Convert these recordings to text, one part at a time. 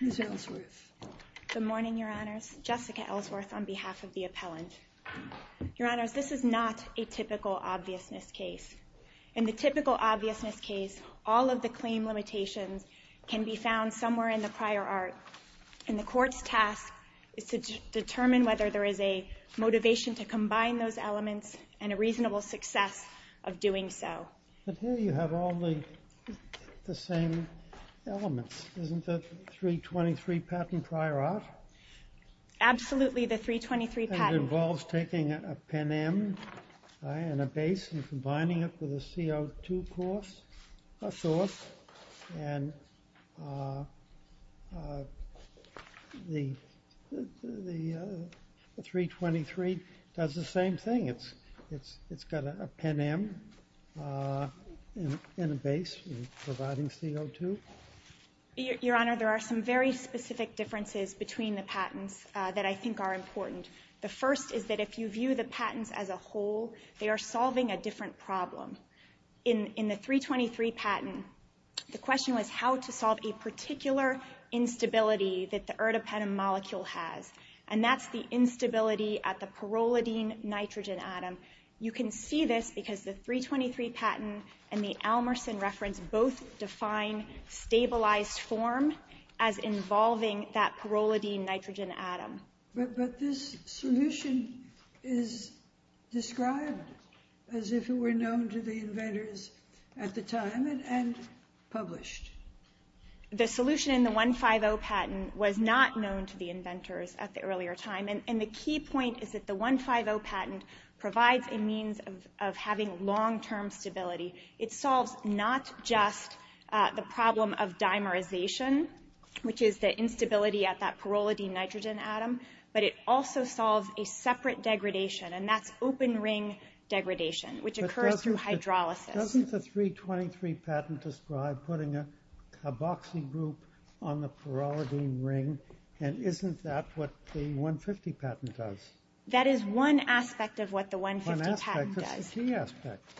Ms. Ellsworth. Good morning, Your Honors. Jessica Ellsworth on behalf of the appellant. Your Honors, this is not a typical obviousness case. In the typical obviousness case, all of the claim limitations can be found somewhere in the prior art. And the court's task is to determine whether there is a motivation to combine those elements and a reasonable success of doing so. But here you have all the same elements, isn't that 323 patent prior art? Absolutely, the 323 patent. And it involves taking a pen M and a base and combining it with a CO2 course, a source. And the 323 does the same thing. It's got a pen M and a base providing CO2. Your Honor, there are some very specific differences between the patents that I think are important. The first is that if you view the patents as a whole, they are solving a different problem. In the 323 patent, the question was how to solve a particular instability that the erdapenem molecule has. And that's the instability at the pyrrolidine nitrogen atom. You can see this because the 323 patent and the Almersen reference both define stabilized form as involving that pyrrolidine nitrogen atom. But this solution is described as if it were known to the inventors at the time and published. The solution in the 150 patent was not known to the inventors at the earlier time. And the key point is that the 150 patent provides a means of having long-term stability. It solves not just the problem of dimerization, which is the instability at that pyrrolidine nitrogen atom, but it also solves a separate degradation. And that's open ring degradation, which occurs through hydrolysis. Doesn't the 323 patent describe putting a boxing group on the pyrrolidine ring? And isn't that what the 150 patent does? That is one aspect of what the 150 patent does. One aspect? What's the key aspect?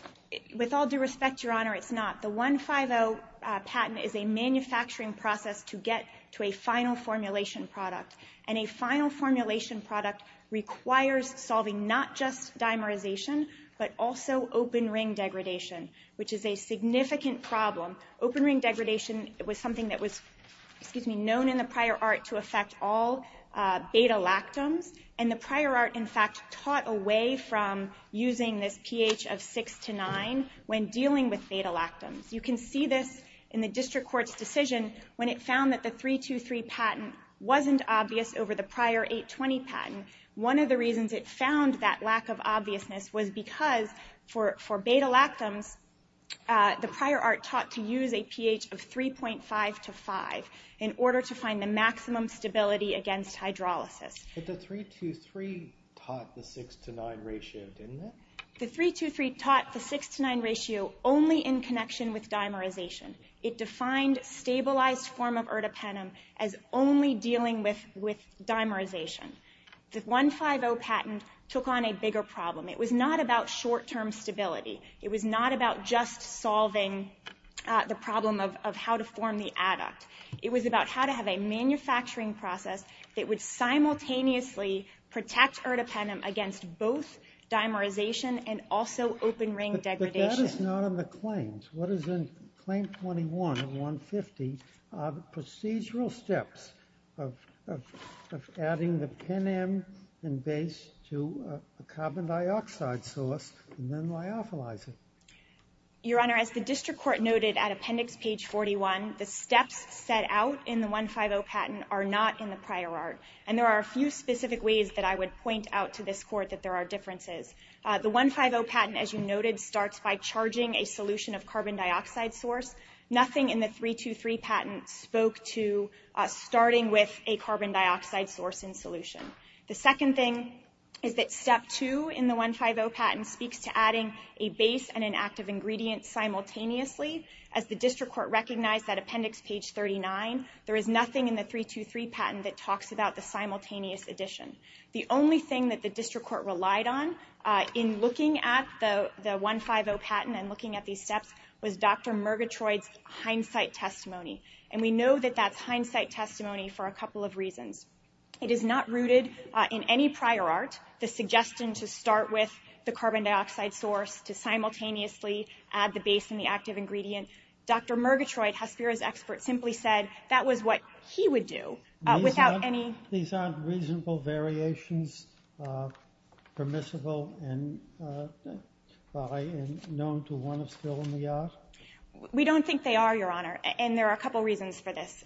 With all due respect, Your Honor, it's not. The 150 patent is a manufacturing process to get to a final formulation product. And a final formulation product requires solving not just dimerization, but also open ring degradation, which is a significant problem. Open ring degradation was something that was known in the prior art to affect all beta lactams. And the prior art, in fact, taught away from using this pH of 6 to 9 when dealing with beta lactams. You can see this in the District Court's decision when it found that the 323 patent wasn't obvious over the prior 820 patent. One of the reasons it found that lack of obviousness was because for beta lactams, the prior art taught to use a pH of 3.5 to 5 in order to find the maximum stability against hydrolysis. But the 323 taught the 6 to 9 ratio, didn't it? The 323 taught the 6 to 9 ratio only in connection with dimerization. It defined stabilized form of ertapenem as only dealing with dimerization. The 150 patent took on a bigger problem. It was not about short-term stability. It was not about just solving the problem of how to form the adduct. It was about how to have a manufacturing process that would simultaneously protect ertapenem against both dimerization and also open ring degradation. That is not in the claims. What is in claim 21 of 150 are the procedural steps of adding the penem and base to a carbon dioxide source and then lyophilizing. Your Honor, as the District Court noted at appendix page 41, the steps set out in the 150 patent are not in the prior art. And there are a few specific ways that I would point out to this Court that there are differences. The 150 patent, as you noted, starts by charging a solution of carbon dioxide source. Nothing in the 323 patent spoke to starting with a carbon dioxide source and solution. The second thing is that step 2 in the 150 patent speaks to adding a base and an active ingredient simultaneously. As the District Court recognized at appendix page 39, there is nothing in the 323 patent that talks about the simultaneous addition. The only thing that the District Court relied on in looking at the 150 patent and looking at these steps was Dr. Murgatroyd's hindsight testimony. And we know that that's hindsight testimony for a couple of reasons. It is not rooted in any prior art, the suggestion to start with the carbon dioxide source to simultaneously add the base and the active ingredient. Dr. Murgatroyd, Hespera's expert, simply said that was what he would do without any These aren't reasonable variations permissible by and known to one of still in the art? We don't think they are, Your Honor. And there are a couple reasons for this.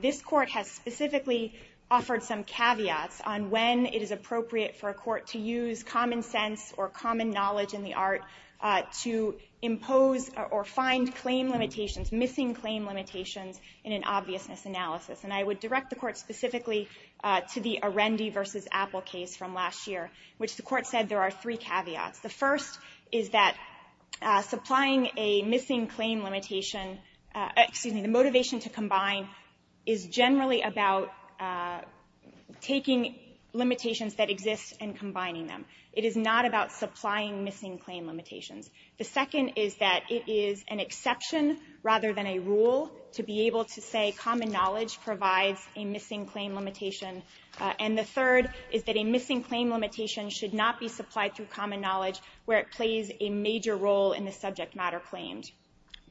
This Court has specifically offered some caveats on when it is appropriate for a court to use common sense or common knowledge in the art to impose or find claim limitations, missing claim limitations, in an obviousness analysis. And I would direct the Court specifically to the Arendi v. Apple case from last year, which the Court said there are three caveats. The first is that supplying a missing claim limitation, excuse me, the motivation to combine is generally about taking limitations that exist and combining them. It is not about supplying missing claim limitations. The second is that it is an exception rather than a rule to be able to say common knowledge provides a missing claim limitation. And the third is that a missing claim limitation should not be supplied through common knowledge where it plays a major role in the subject matter claimed.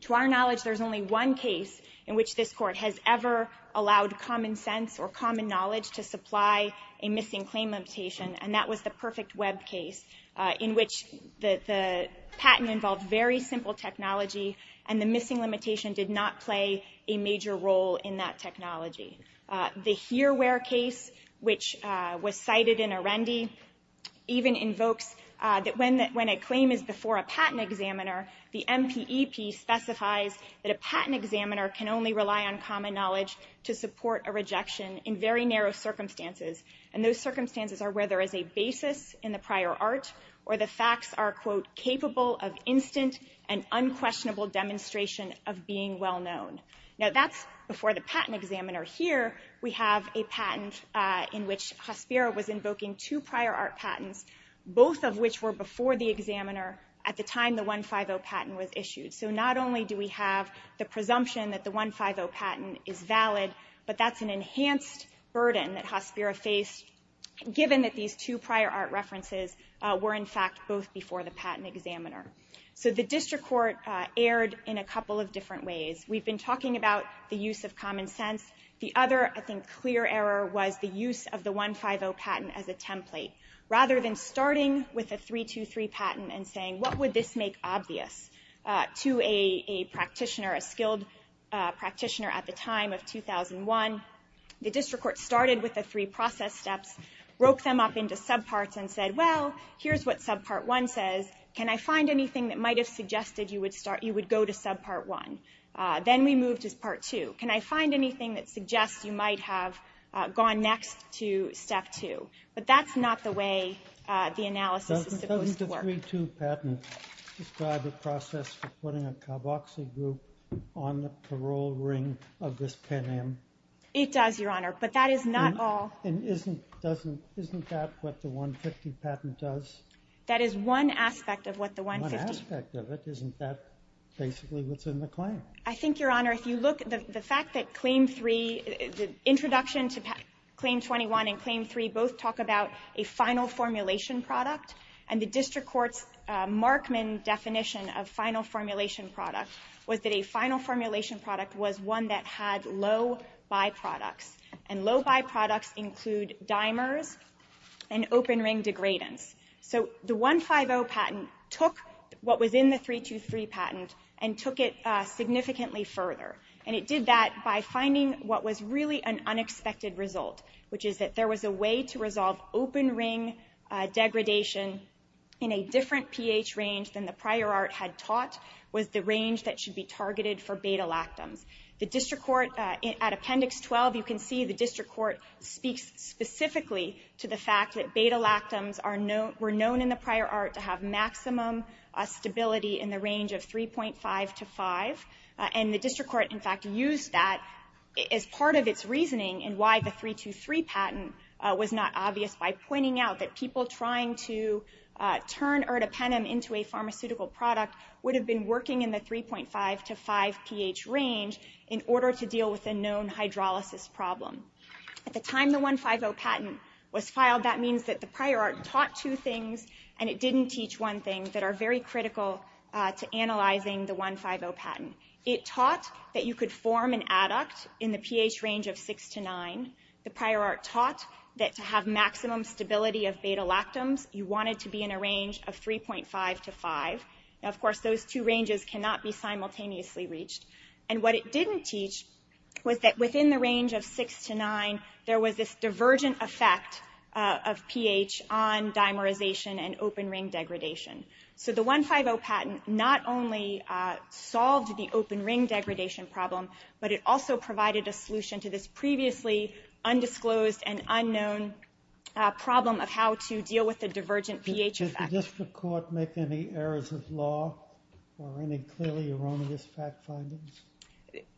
To our knowledge, there is only one case in which this Court has ever allowed common sense or common knowledge to supply a missing claim limitation, and that was the Perfect Web case, in which the patent involved very simple technology and the missing limitation did not play a major role in that technology. The Here Where case, which was cited in Arendi, even invokes that when a claim is before a patent examiner, the MPEP specifies that a patent examiner can only rely on common knowledge to support a rejection in very narrow circumstances. And those circumstances are where there is a basis in the prior art, where the facts are, quote, capable of instant and unquestionable demonstration of being well-known. Now that's before the patent examiner. Here we have a patent in which Hospira was invoking two prior art patents, both of which were before the examiner at the time the 150 patent was issued. So not only do we have the presumption that the 150 patent is valid, but that's an enhanced burden that Hospira faced, given that these two prior art references were, in fact, both before the patent examiner. So the district court erred in a couple of different ways. We've been talking about the use of common sense. The other, I think, clear error was the use of the 150 patent as a template. Rather than starting with a 323 patent and saying, what would this make obvious to a practitioner, a skilled practitioner at the time of 2001, the district court started with the three process steps, broke them up into subparts and said, well, here's what subpart one says. Can I find anything that might have suggested you would go to subpart one? Then we moved to part two. Can I find anything that suggests you might have gone next to step two? But that's not the way the analysis is supposed to work. Doesn't the 323 patent describe a process for putting a carboxy group on the parole ring of this pin-in? It does, Your Honor. But that is not all. And isn't that what the 150 patent does? That is one aspect of what the 150. One aspect of it. Isn't that basically what's in the claim? I think, Your Honor, if you look at the fact that claim three, the introduction to claim 21 and claim three both talk about a final formulation product, and the district court's Markman definition of final formulation product was that a final formulation product was one that had low byproducts. And low byproducts include dimers and open ring degradants. So the 150 patent took what was in the 323 patent and took it significantly further. And it did that by finding what was really an unexpected result, which is that there was a way to resolve open ring degradation in a different pH range than the prior art had taught was the range that should be targeted for beta-lactams. The district court at Appendix 12, you can see the district court speaks specifically to the fact that beta-lactams were known in the prior art to have maximum stability in the range of 3.5 to 5. And the district court, in fact, used that as part of its reasoning in why the 323 patent was not obvious by pointing out that people trying to turn erdapenem into a pharmaceutical product would have been working in the 3.5 to 5 pH range in order to deal with a known hydrolysis problem. At the time the 150 patent was filed, that means that the prior art taught two things and it didn't teach one thing that are very critical to analyzing the 150 patent. It taught that you could form an adduct in the pH range of 6 to 9. The prior art taught that to have maximum stability of beta-lactams, you wanted to be in a range of 3.5 to 5. Now, of course, those two ranges cannot be simultaneously reached. And what it didn't teach was that within the range of 6 to 9, there was this divergent effect of pH on dimerization and open ring degradation. So the 150 patent not only solved the open ring degradation problem, but it also provided a solution to this previously undisclosed and unknown problem of how to deal with the divergent pH effect. Does the district court make any errors of law or any clearly erroneous fact findings?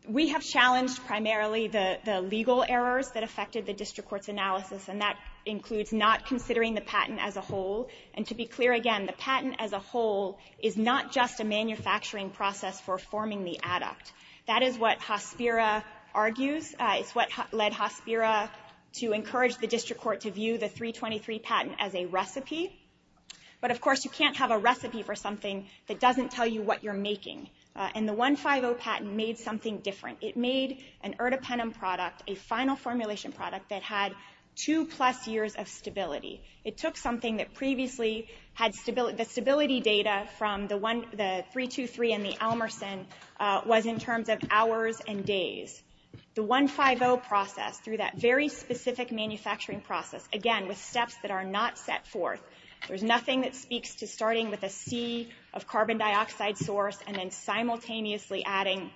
We have challenged primarily the legal errors that affected the district court's analysis and that includes not considering the patent as a whole. And to be clear again, the patent as a whole is not just a manufacturing process for forming the adduct. That is what Hospira argues. It's what led Hospira to encourage the district court to view the 323 patent as a recipe. But, of course, you can't have a recipe for something that doesn't tell you what you're making. And the 150 patent made something different. It made an ertapenem product, a final formulation product, that had two plus years of stability. It took something that previously had stability. The stability data from the 323 and the Elmerson was in terms of hours and days. The 150 process, through that very specific manufacturing process, again with steps that are not set forth, there's nothing that speaks to starting with a C of carbon dioxide source and then simultaneously adding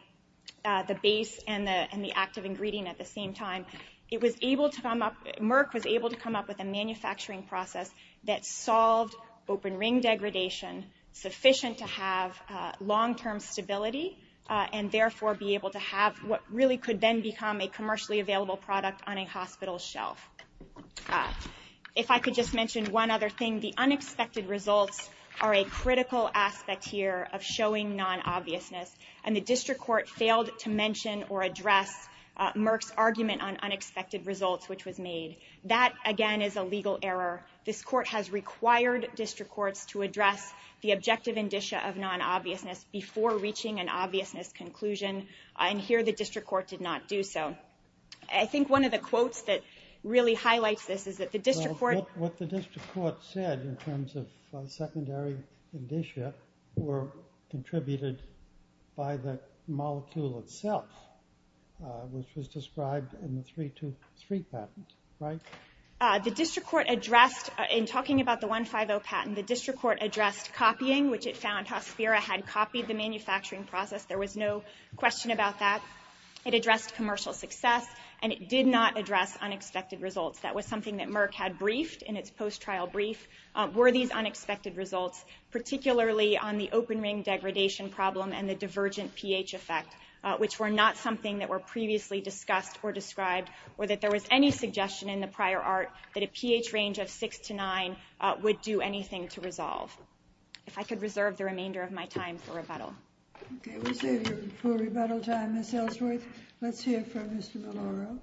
the base and the active ingredient at the same time. It was able to come up, Merck was able to come up with a manufacturing process that solved open ring degradation sufficient to have long term stability and therefore be able to have what really could then become a commercially available product on a hospital shelf. If I could just mention one other thing. The unexpected results are a critical aspect here of showing non-obviousness. And the district court failed to mention or address Merck's argument on unexpected results, which was made. That, again, is a legal error. This court has required district courts to address the objective indicia of non-obviousness before reaching an obviousness conclusion. And here the district court did not do so. I think one of the quotes that really highlights this is that the district court... What the district court said in terms of secondary indicia were contributed by the molecule itself, which was described in the 323 patent, right? The district court addressed, in talking about the 150 patent, the district court addressed copying, which it found Hospira had copied the manufacturing process. There was no question about that. It addressed commercial success, and it did not address unexpected results. That was something that Merck had briefed in its post-trial brief, were these unexpected results, particularly on the open ring degradation problem and the divergent pH effect, which were not something that were previously discussed or described, or that there was any suggestion in the prior art that a pH range of 6 to 9 would do anything to resolve. If I could reserve the remainder of my time for rebuttal. Okay, we'll save your full rebuttal time, Ms. Ellsworth. Let's hear from Mr. Maloro.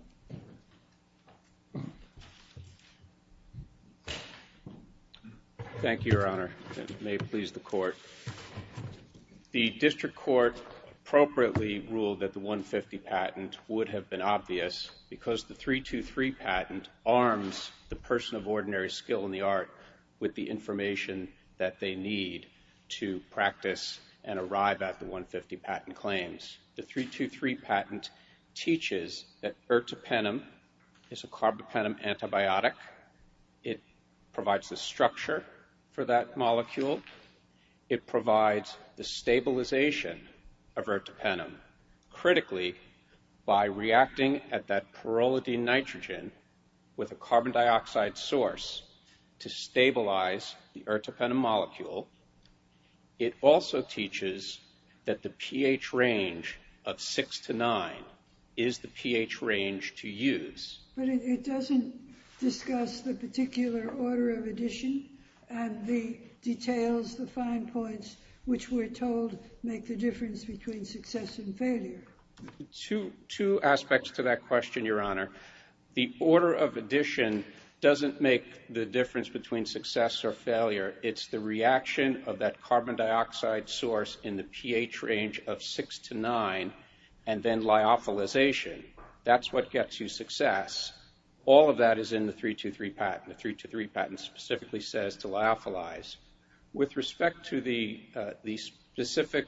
Thank you, Your Honor. May it please the court. The district court appropriately ruled that the 150 patent would have been obvious because the 323 patent arms the person of ordinary skill in the art with the information that they need to practice and arrive at the 150 patent claims. The 323 patent teaches that ertapenem is a carbapenem antibiotic. It provides the structure for that molecule. It provides the stabilization of ertapenem, critically by reacting at that pyrrolidine nitrogen with a carbon dioxide source to stabilize the ertapenem molecule. It also teaches that the pH range of 6 to 9 is the pH range to use. But it doesn't discuss the particular order of addition and the details, the fine points which we're told make the difference between success and failure. Two aspects to that question, Your Honor. The order of addition doesn't make the difference between success or failure. It's the reaction of that carbon dioxide source in the pH range of 6 to 9 and then lyophilization. That's what gets you success. All of that is in the 323 patent. The 323 patent specifically says to lyophilize. With respect to the specific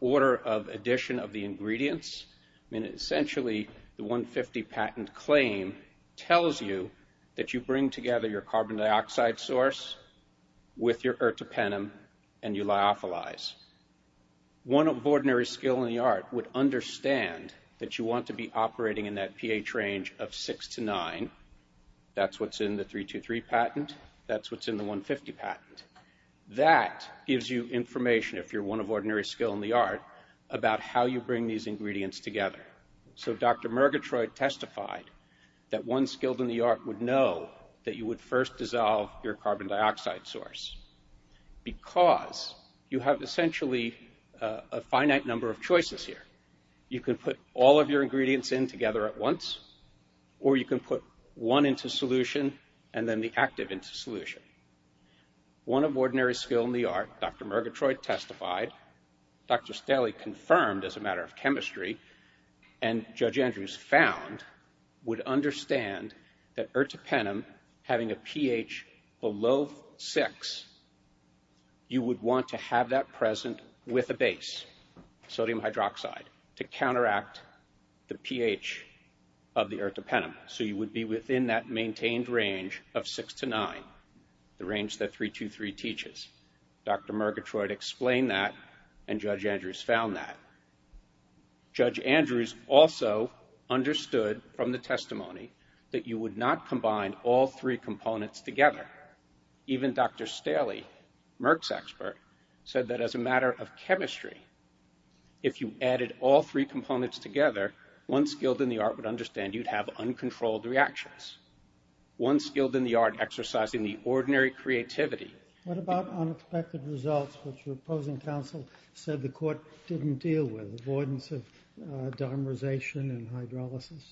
order of addition of the ingredients, essentially the 150 patent claim tells you that you bring together your carbon dioxide source with your ertapenem and you lyophilize. One of ordinary skill in the art would understand that you want to be operating in that pH range of 6 to 9. That's what's in the 323 patent. That's what's in the 150 patent. That gives you information, if you're one of ordinary skill in the art, about how you bring these ingredients together. So Dr. Murgatroyd testified that one skilled in the art would know that you would first dissolve your carbon dioxide source because you have essentially a finite number of choices here. You can put all of your ingredients in together at once or you can put one into solution and then the active into solution. One of ordinary skill in the art, Dr. Murgatroyd testified, Dr. Staley confirmed as a matter of chemistry, and Judge Andrews found, would understand that ertapenem having a pH below 6, you would want to have that present with a base, sodium hydroxide, to counteract the pH of the ertapenem. So you would be within that maintained range of 6 to 9, the range that 323 teaches. Dr. Murgatroyd explained that and Judge Andrews found that. Judge Andrews also understood from the testimony that you would not combine all three components together. Even Dr. Staley, Merck's expert, said that as a matter of chemistry, if you added all three components together, one skilled in the art would understand you'd have uncontrolled reactions. One skilled in the art exercising the ordinary creativity. What about unexpected results which your opposing counsel said the court didn't deal with, avoidance of dimerization and hydrolysis?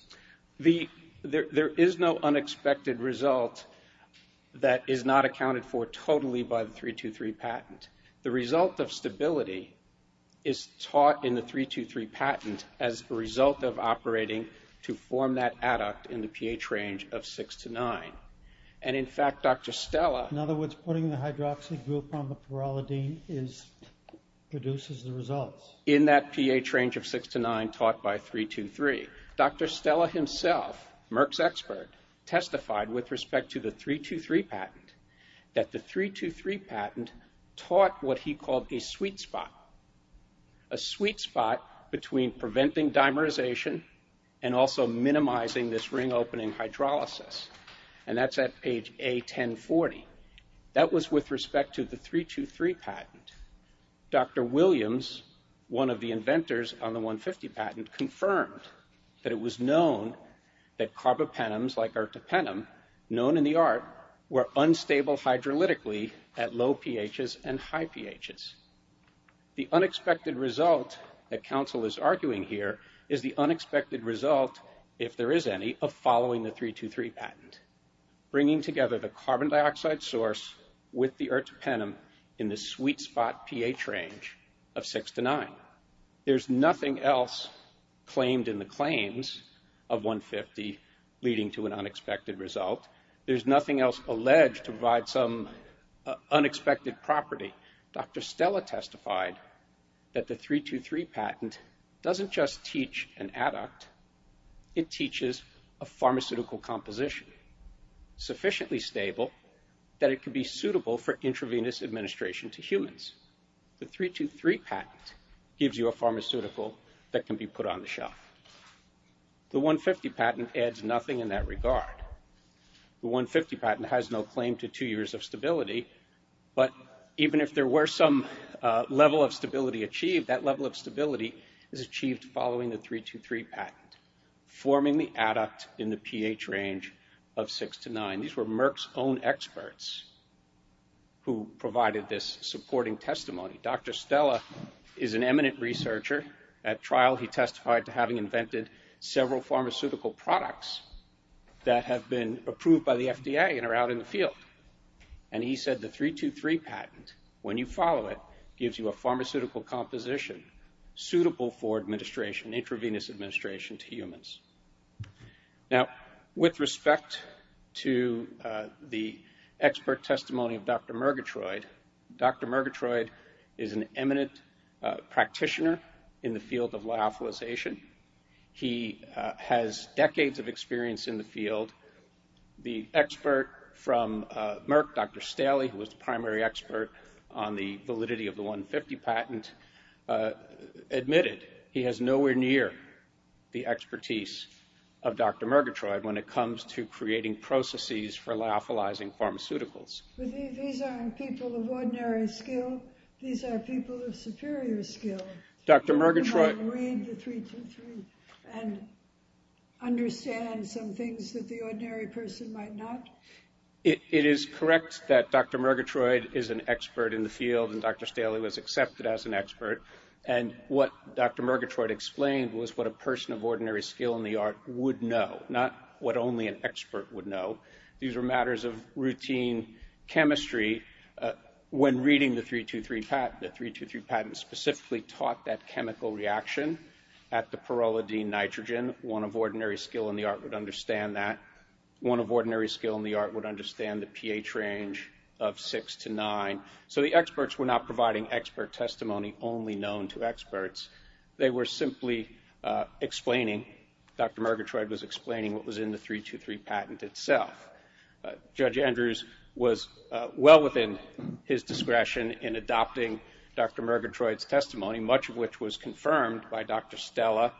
There is no unexpected result that is not accounted for totally by the 323 patent. The result of stability is taught in the 323 patent as a result of operating to form that adduct in the pH range of 6 to 9. And in fact, Dr. Stella... In other words, putting the hydroxide group on the pyrolidine produces the results. ...in that pH range of 6 to 9 taught by 323. Dr. Stella himself, Merck's expert, testified with respect to the 323 patent that the 323 patent taught what he called a sweet spot. A sweet spot between preventing dimerization and also minimizing this ring-opening hydrolysis. And that's at page A1040. That was with respect to the 323 patent. Dr. Williams, one of the inventors on the 150 patent, confirmed that it was known that carbapenems, like ertapenem, known in the art, were unstable hydrolytically at low pHs and high pHs. The unexpected result that counsel is arguing here is the unexpected result, if there is any, of following the 323 patent. Bringing together the carbon dioxide source with the ertapenem in the sweet spot pH range of 6 to 9. There's nothing else claimed in the claims of 150 leading to an unexpected result. There's nothing else alleged to provide some unexpected property. Dr. Stella testified that the 323 patent doesn't just teach an adduct, it teaches a pharmaceutical composition sufficiently stable that it can be suitable for intravenous administration to humans. The 323 patent gives you a pharmaceutical that can be put on the shelf. The 150 patent adds nothing in that regard. The 150 patent has no claim to two years of stability, but even if there were some level of stability achieved, that level of stability is achieved following the 323 patent. Forming the adduct in the pH range of 6 to 9. These were Merck's own experts who provided this supporting testimony. Dr. Stella is an eminent researcher. At trial, he testified to having invented several pharmaceutical products that have been approved by the FDA and are out in the field. And he said the 323 patent, when you follow it, gives you a pharmaceutical composition suitable for administration, intravenous administration to humans. Now, with respect to the expert testimony of Dr. Murgatroyd, Dr. Murgatroyd is an eminent practitioner in the field of lyophilization. He has decades of experience in the field. The expert from Merck, Dr. Staley, who was the primary expert on the validity of the 150 patent, admitted he has nowhere near the expertise of Dr. Murgatroyd when it comes to creating processes for lyophilizing pharmaceuticals. These aren't people of ordinary skill. These are people of superior skill. Dr. Murgatroyd... You might read the 323 and understand some things that the ordinary person might not. It is correct that Dr. Murgatroyd is an expert in the field and Dr. Staley was accepted as an expert. And what Dr. Murgatroyd explained was what a person of ordinary skill in the art would know, not what only an expert would know. These were matters of routine chemistry. When reading the 323 patent, the 323 patent specifically taught that chemical reaction at the pyrrolidine nitrogen. One of ordinary skill in the art would understand that. One of ordinary skill in the art would understand the pH range of 6 to 9. So the experts were not providing expert testimony only known to experts. They were simply explaining, Dr. Murgatroyd was explaining what was in the 323 patent itself. Judge Andrews was well within his discretion in adopting Dr. Murgatroyd's testimony, much of which was confirmed by Dr. Stella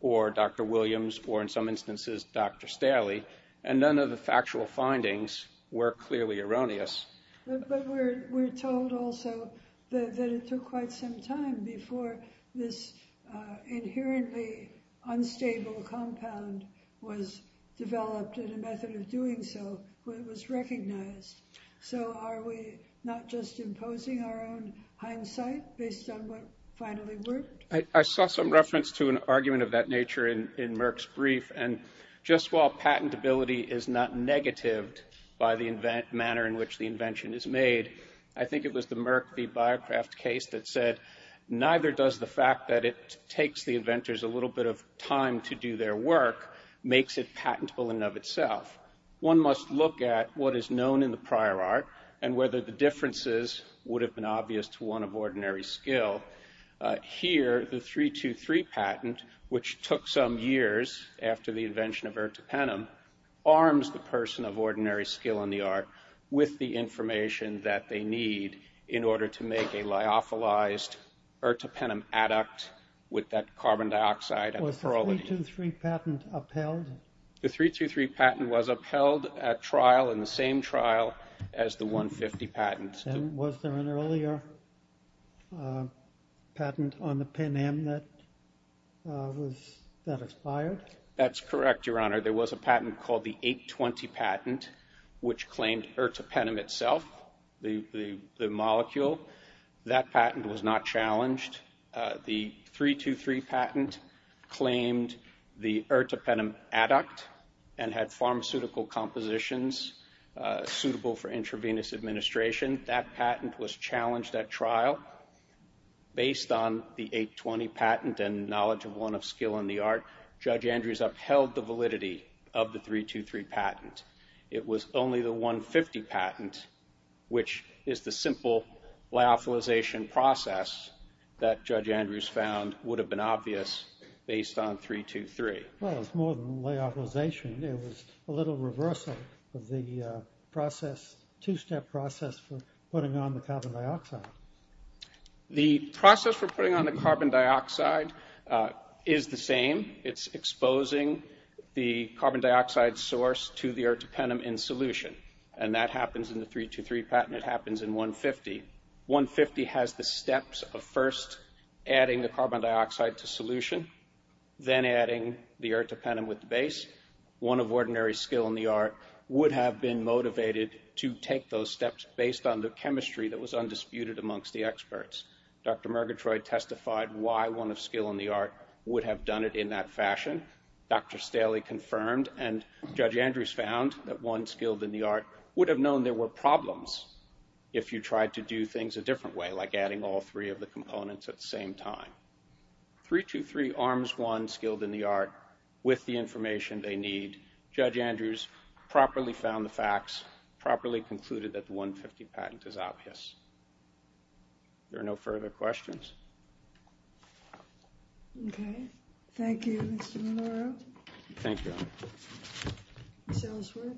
or Dr. Williams or in some instances Dr. Staley. And none of the factual findings were clearly erroneous. But we're told also that it took quite some time before this inherently unstable compound was developed and a method of doing so was recognized. So are we not just imposing our own hindsight based on what finally worked? I saw some reference to an argument of that nature in Merck's brief. And just while patentability is not negatived by the manner in which the invention is made, I think it was the Merck v. BioCraft case that said, neither does the fact that it takes the inventors a little bit of time to do their work makes it patentable in and of itself. One must look at what is known in the prior art and whether the differences would have been obvious to one of ordinary skill. Here, the 3-2-3 patent, which took some years after the invention of ertapenem, arms the person of ordinary skill in the art with the information that they need in order to make a lyophilized ertapenem adduct with that carbon dioxide. Was the 3-2-3 patent upheld? The 3-2-3 patent was upheld at trial in the same trial as the 150 patent. Was there an earlier patent on the penam that expired? That's correct, Your Honor. There was a patent called the 8-20 patent, which claimed ertapenem itself, the molecule. That patent was not challenged. The 3-2-3 patent claimed the ertapenem adduct and had pharmaceutical compositions suitable for intravenous administration. That patent was challenged at trial. Based on the 8-20 patent and knowledge of one of skill in the art, Judge Andrews upheld the validity of the 3-2-3 patent. It was only the 150 patent, which is the simple lyophilization process, that Judge Andrews found would have been obvious based on 3-2-3. Well, it's more than lyophilization. It was a little reversal of the process, two-step process for putting on the carbon dioxide. The process for putting on the carbon dioxide is the same. It's exposing the carbon dioxide source to the ertapenem in solution. And that happens in the 3-2-3 patent. It happens in 150. 150 has the steps of first adding the carbon dioxide to solution, then adding the ertapenem with the base. One of ordinary skill in the art would have been motivated to take those steps based on the chemistry that was undisputed amongst the experts. Dr. Murgatroyd testified why one of skill in the art would have done it in that fashion. Dr. Staley confirmed, and Judge Andrews found that one skilled in the art would have known there were problems if you tried to do things a different way, like adding all three of the components at the same time. 3-2-3 arms one skilled in the art with the information they need. Judge Andrews properly found the facts, properly concluded that the 150 patent is obvious. There are no further questions. Okay. Thank you, Mr. Monroe. Thank you, Your Honor. Ms. Ellsworth.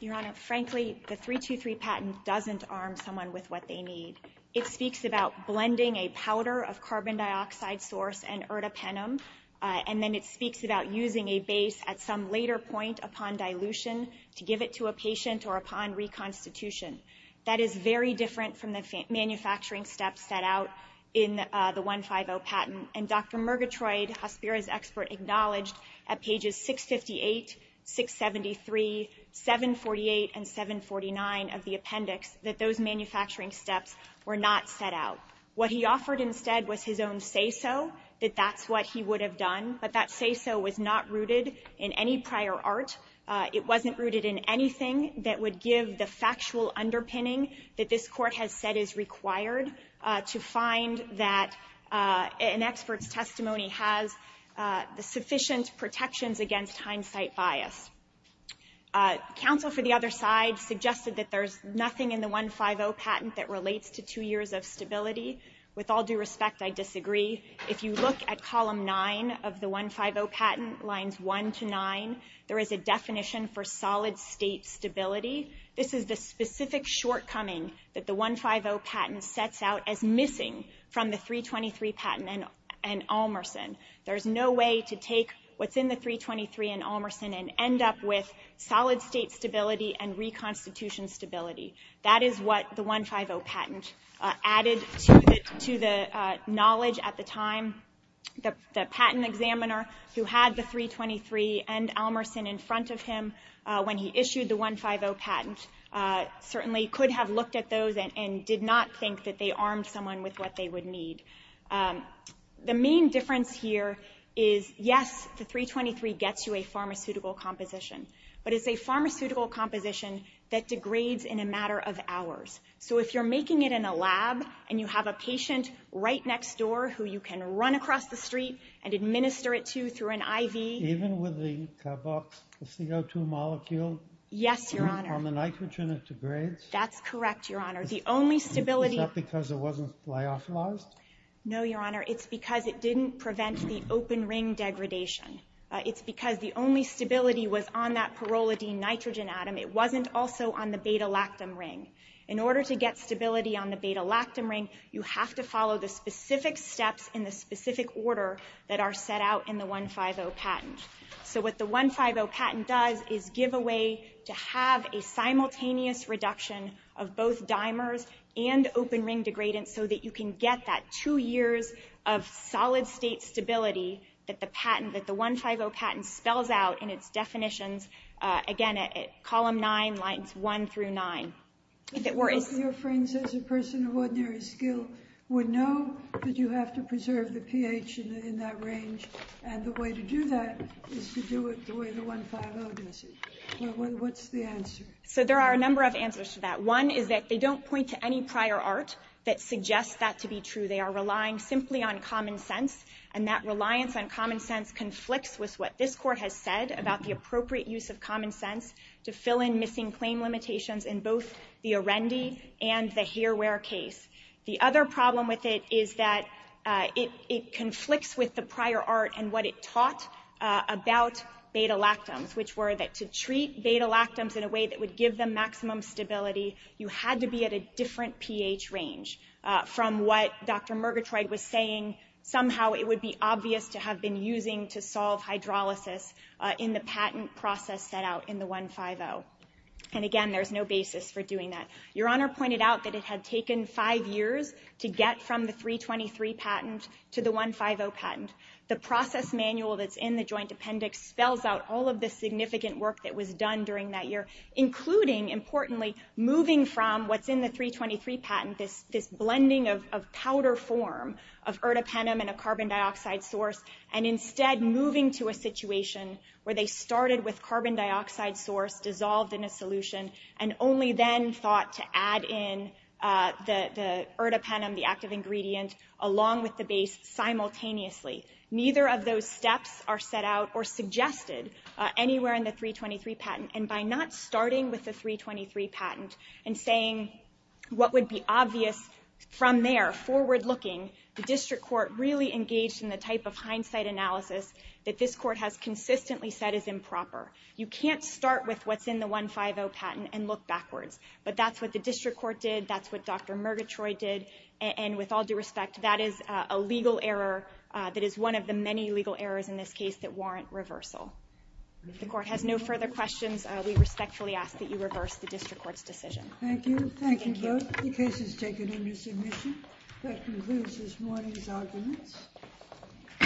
Your Honor, frankly, the 3-2-3 patent doesn't arm someone with what they need. It speaks about blending a powder of carbon dioxide source and ertapenem, and then it speaks about using a base at some later point upon dilution to give it to a patient or upon reconstitution. That is very different from the manufacturing steps set out in the 150 patent. And Dr. Murgatroyd, Hospira's expert, acknowledged that at pages 658, 673, 748, and 749 of the appendix, that those manufacturing steps were not set out. What he offered instead was his own say-so, that that's what he would have done. But that say-so was not rooted in any prior art. It wasn't rooted in anything that would give the factual underpinning that this Court has said is required to find that an expert's testimony has the sufficient protections against hindsight bias. Counsel for the other side suggested that there's nothing in the 150 patent that relates to two years of stability. With all due respect, I disagree. If you look at column 9 of the 150 patent, lines 1 to 9, there is a definition for solid state stability. This is the specific shortcoming that the 150 patent sets out as missing from the 323 patent and Olmerson. There's no way to take what's in the 323 and Olmerson and end up with solid state stability and reconstitution stability. That is what the 150 patent added to the knowledge at the time. The patent examiner who had the 323 and Olmerson in front of him when he issued the 150 patent certainly could have looked at those and did not think that they armed someone with what they would need. The main difference here is, yes, the 323 gets you a pharmaceutical composition, but it's a pharmaceutical composition that degrades in a matter of hours. So if you're making it in a lab and you have a patient right next door who you can run across the street and administer it to through an IV... Even with the CO2 molecule? Yes, Your Honor. On the nitrogen, it degrades? That's correct, Your Honor. The only stability... Is that because it wasn't flyophilized? No, Your Honor. It's because it didn't prevent the open ring degradation. It's because the only stability was on that pyrrolidine nitrogen atom. It wasn't also on the beta-lactam ring. In order to get stability on the beta-lactam ring, you have to follow the specific steps in the specific order that are set out in the 150 patent. So what the 150 patent does is give a way to have a simultaneous reduction of both dimers and open ring degradants so that you can get that two years of solid-state stability that the 150 patent spells out in its definitions, again, at column 9, lines 1 through 9. Most of your friends as a person of ordinary skill would know that you have to preserve the pH in that range. And the way to do that is to do it the way the 150 does it. What's the answer? So there are a number of answers to that. One is that they don't point to any prior art that suggests that to be true. They are relying simply on common sense. And that reliance on common sense conflicts with what this Court has said about the appropriate use of common sense to fill in missing claim limitations in both the Arendi and the Hareware case. The other problem with it is that it conflicts with the prior art and what it taught about beta-lactams, which were that to treat beta-lactams in a way that would give them maximum stability, you had to be at a different pH range from what Dr. Murgatroyd was saying. Somehow it would be obvious to have been using to solve hydrolysis in the patent process set out in the 150. And again, there's no basis for doing that. Your Honor pointed out that it had taken five years to get from the 323 patent to the 150 patent. The process manual that's in the Joint Appendix spells out all of the significant work that was done during that year, including, importantly, moving from what's in the 323 patent, this blending of powder form, of ertapenem and a carbon dioxide source, and instead moving to a situation where they started with carbon dioxide source, dissolved in a solution, and only then thought to add in the ertapenem, the active ingredient, along with the base, simultaneously. Neither of those steps are set out or suggested anywhere in the 323 patent. And by not starting with the 323 patent and saying what would be obvious from there, forward-looking, the district court really engaged in the type of hindsight analysis that this court has consistently said is improper. You can't start with what's in the 150 patent and look backwards. But that's what the district court did, that's what Dr. Murgatroyd did, and with all due respect, that is a legal error that is one of the many legal errors in this case that warrant reversal. If the court has no further questions, we respectfully ask that you reverse the district court's decision. Thank you. Thank you both. The case is taken under submission. That concludes this morning's arguments. All rise.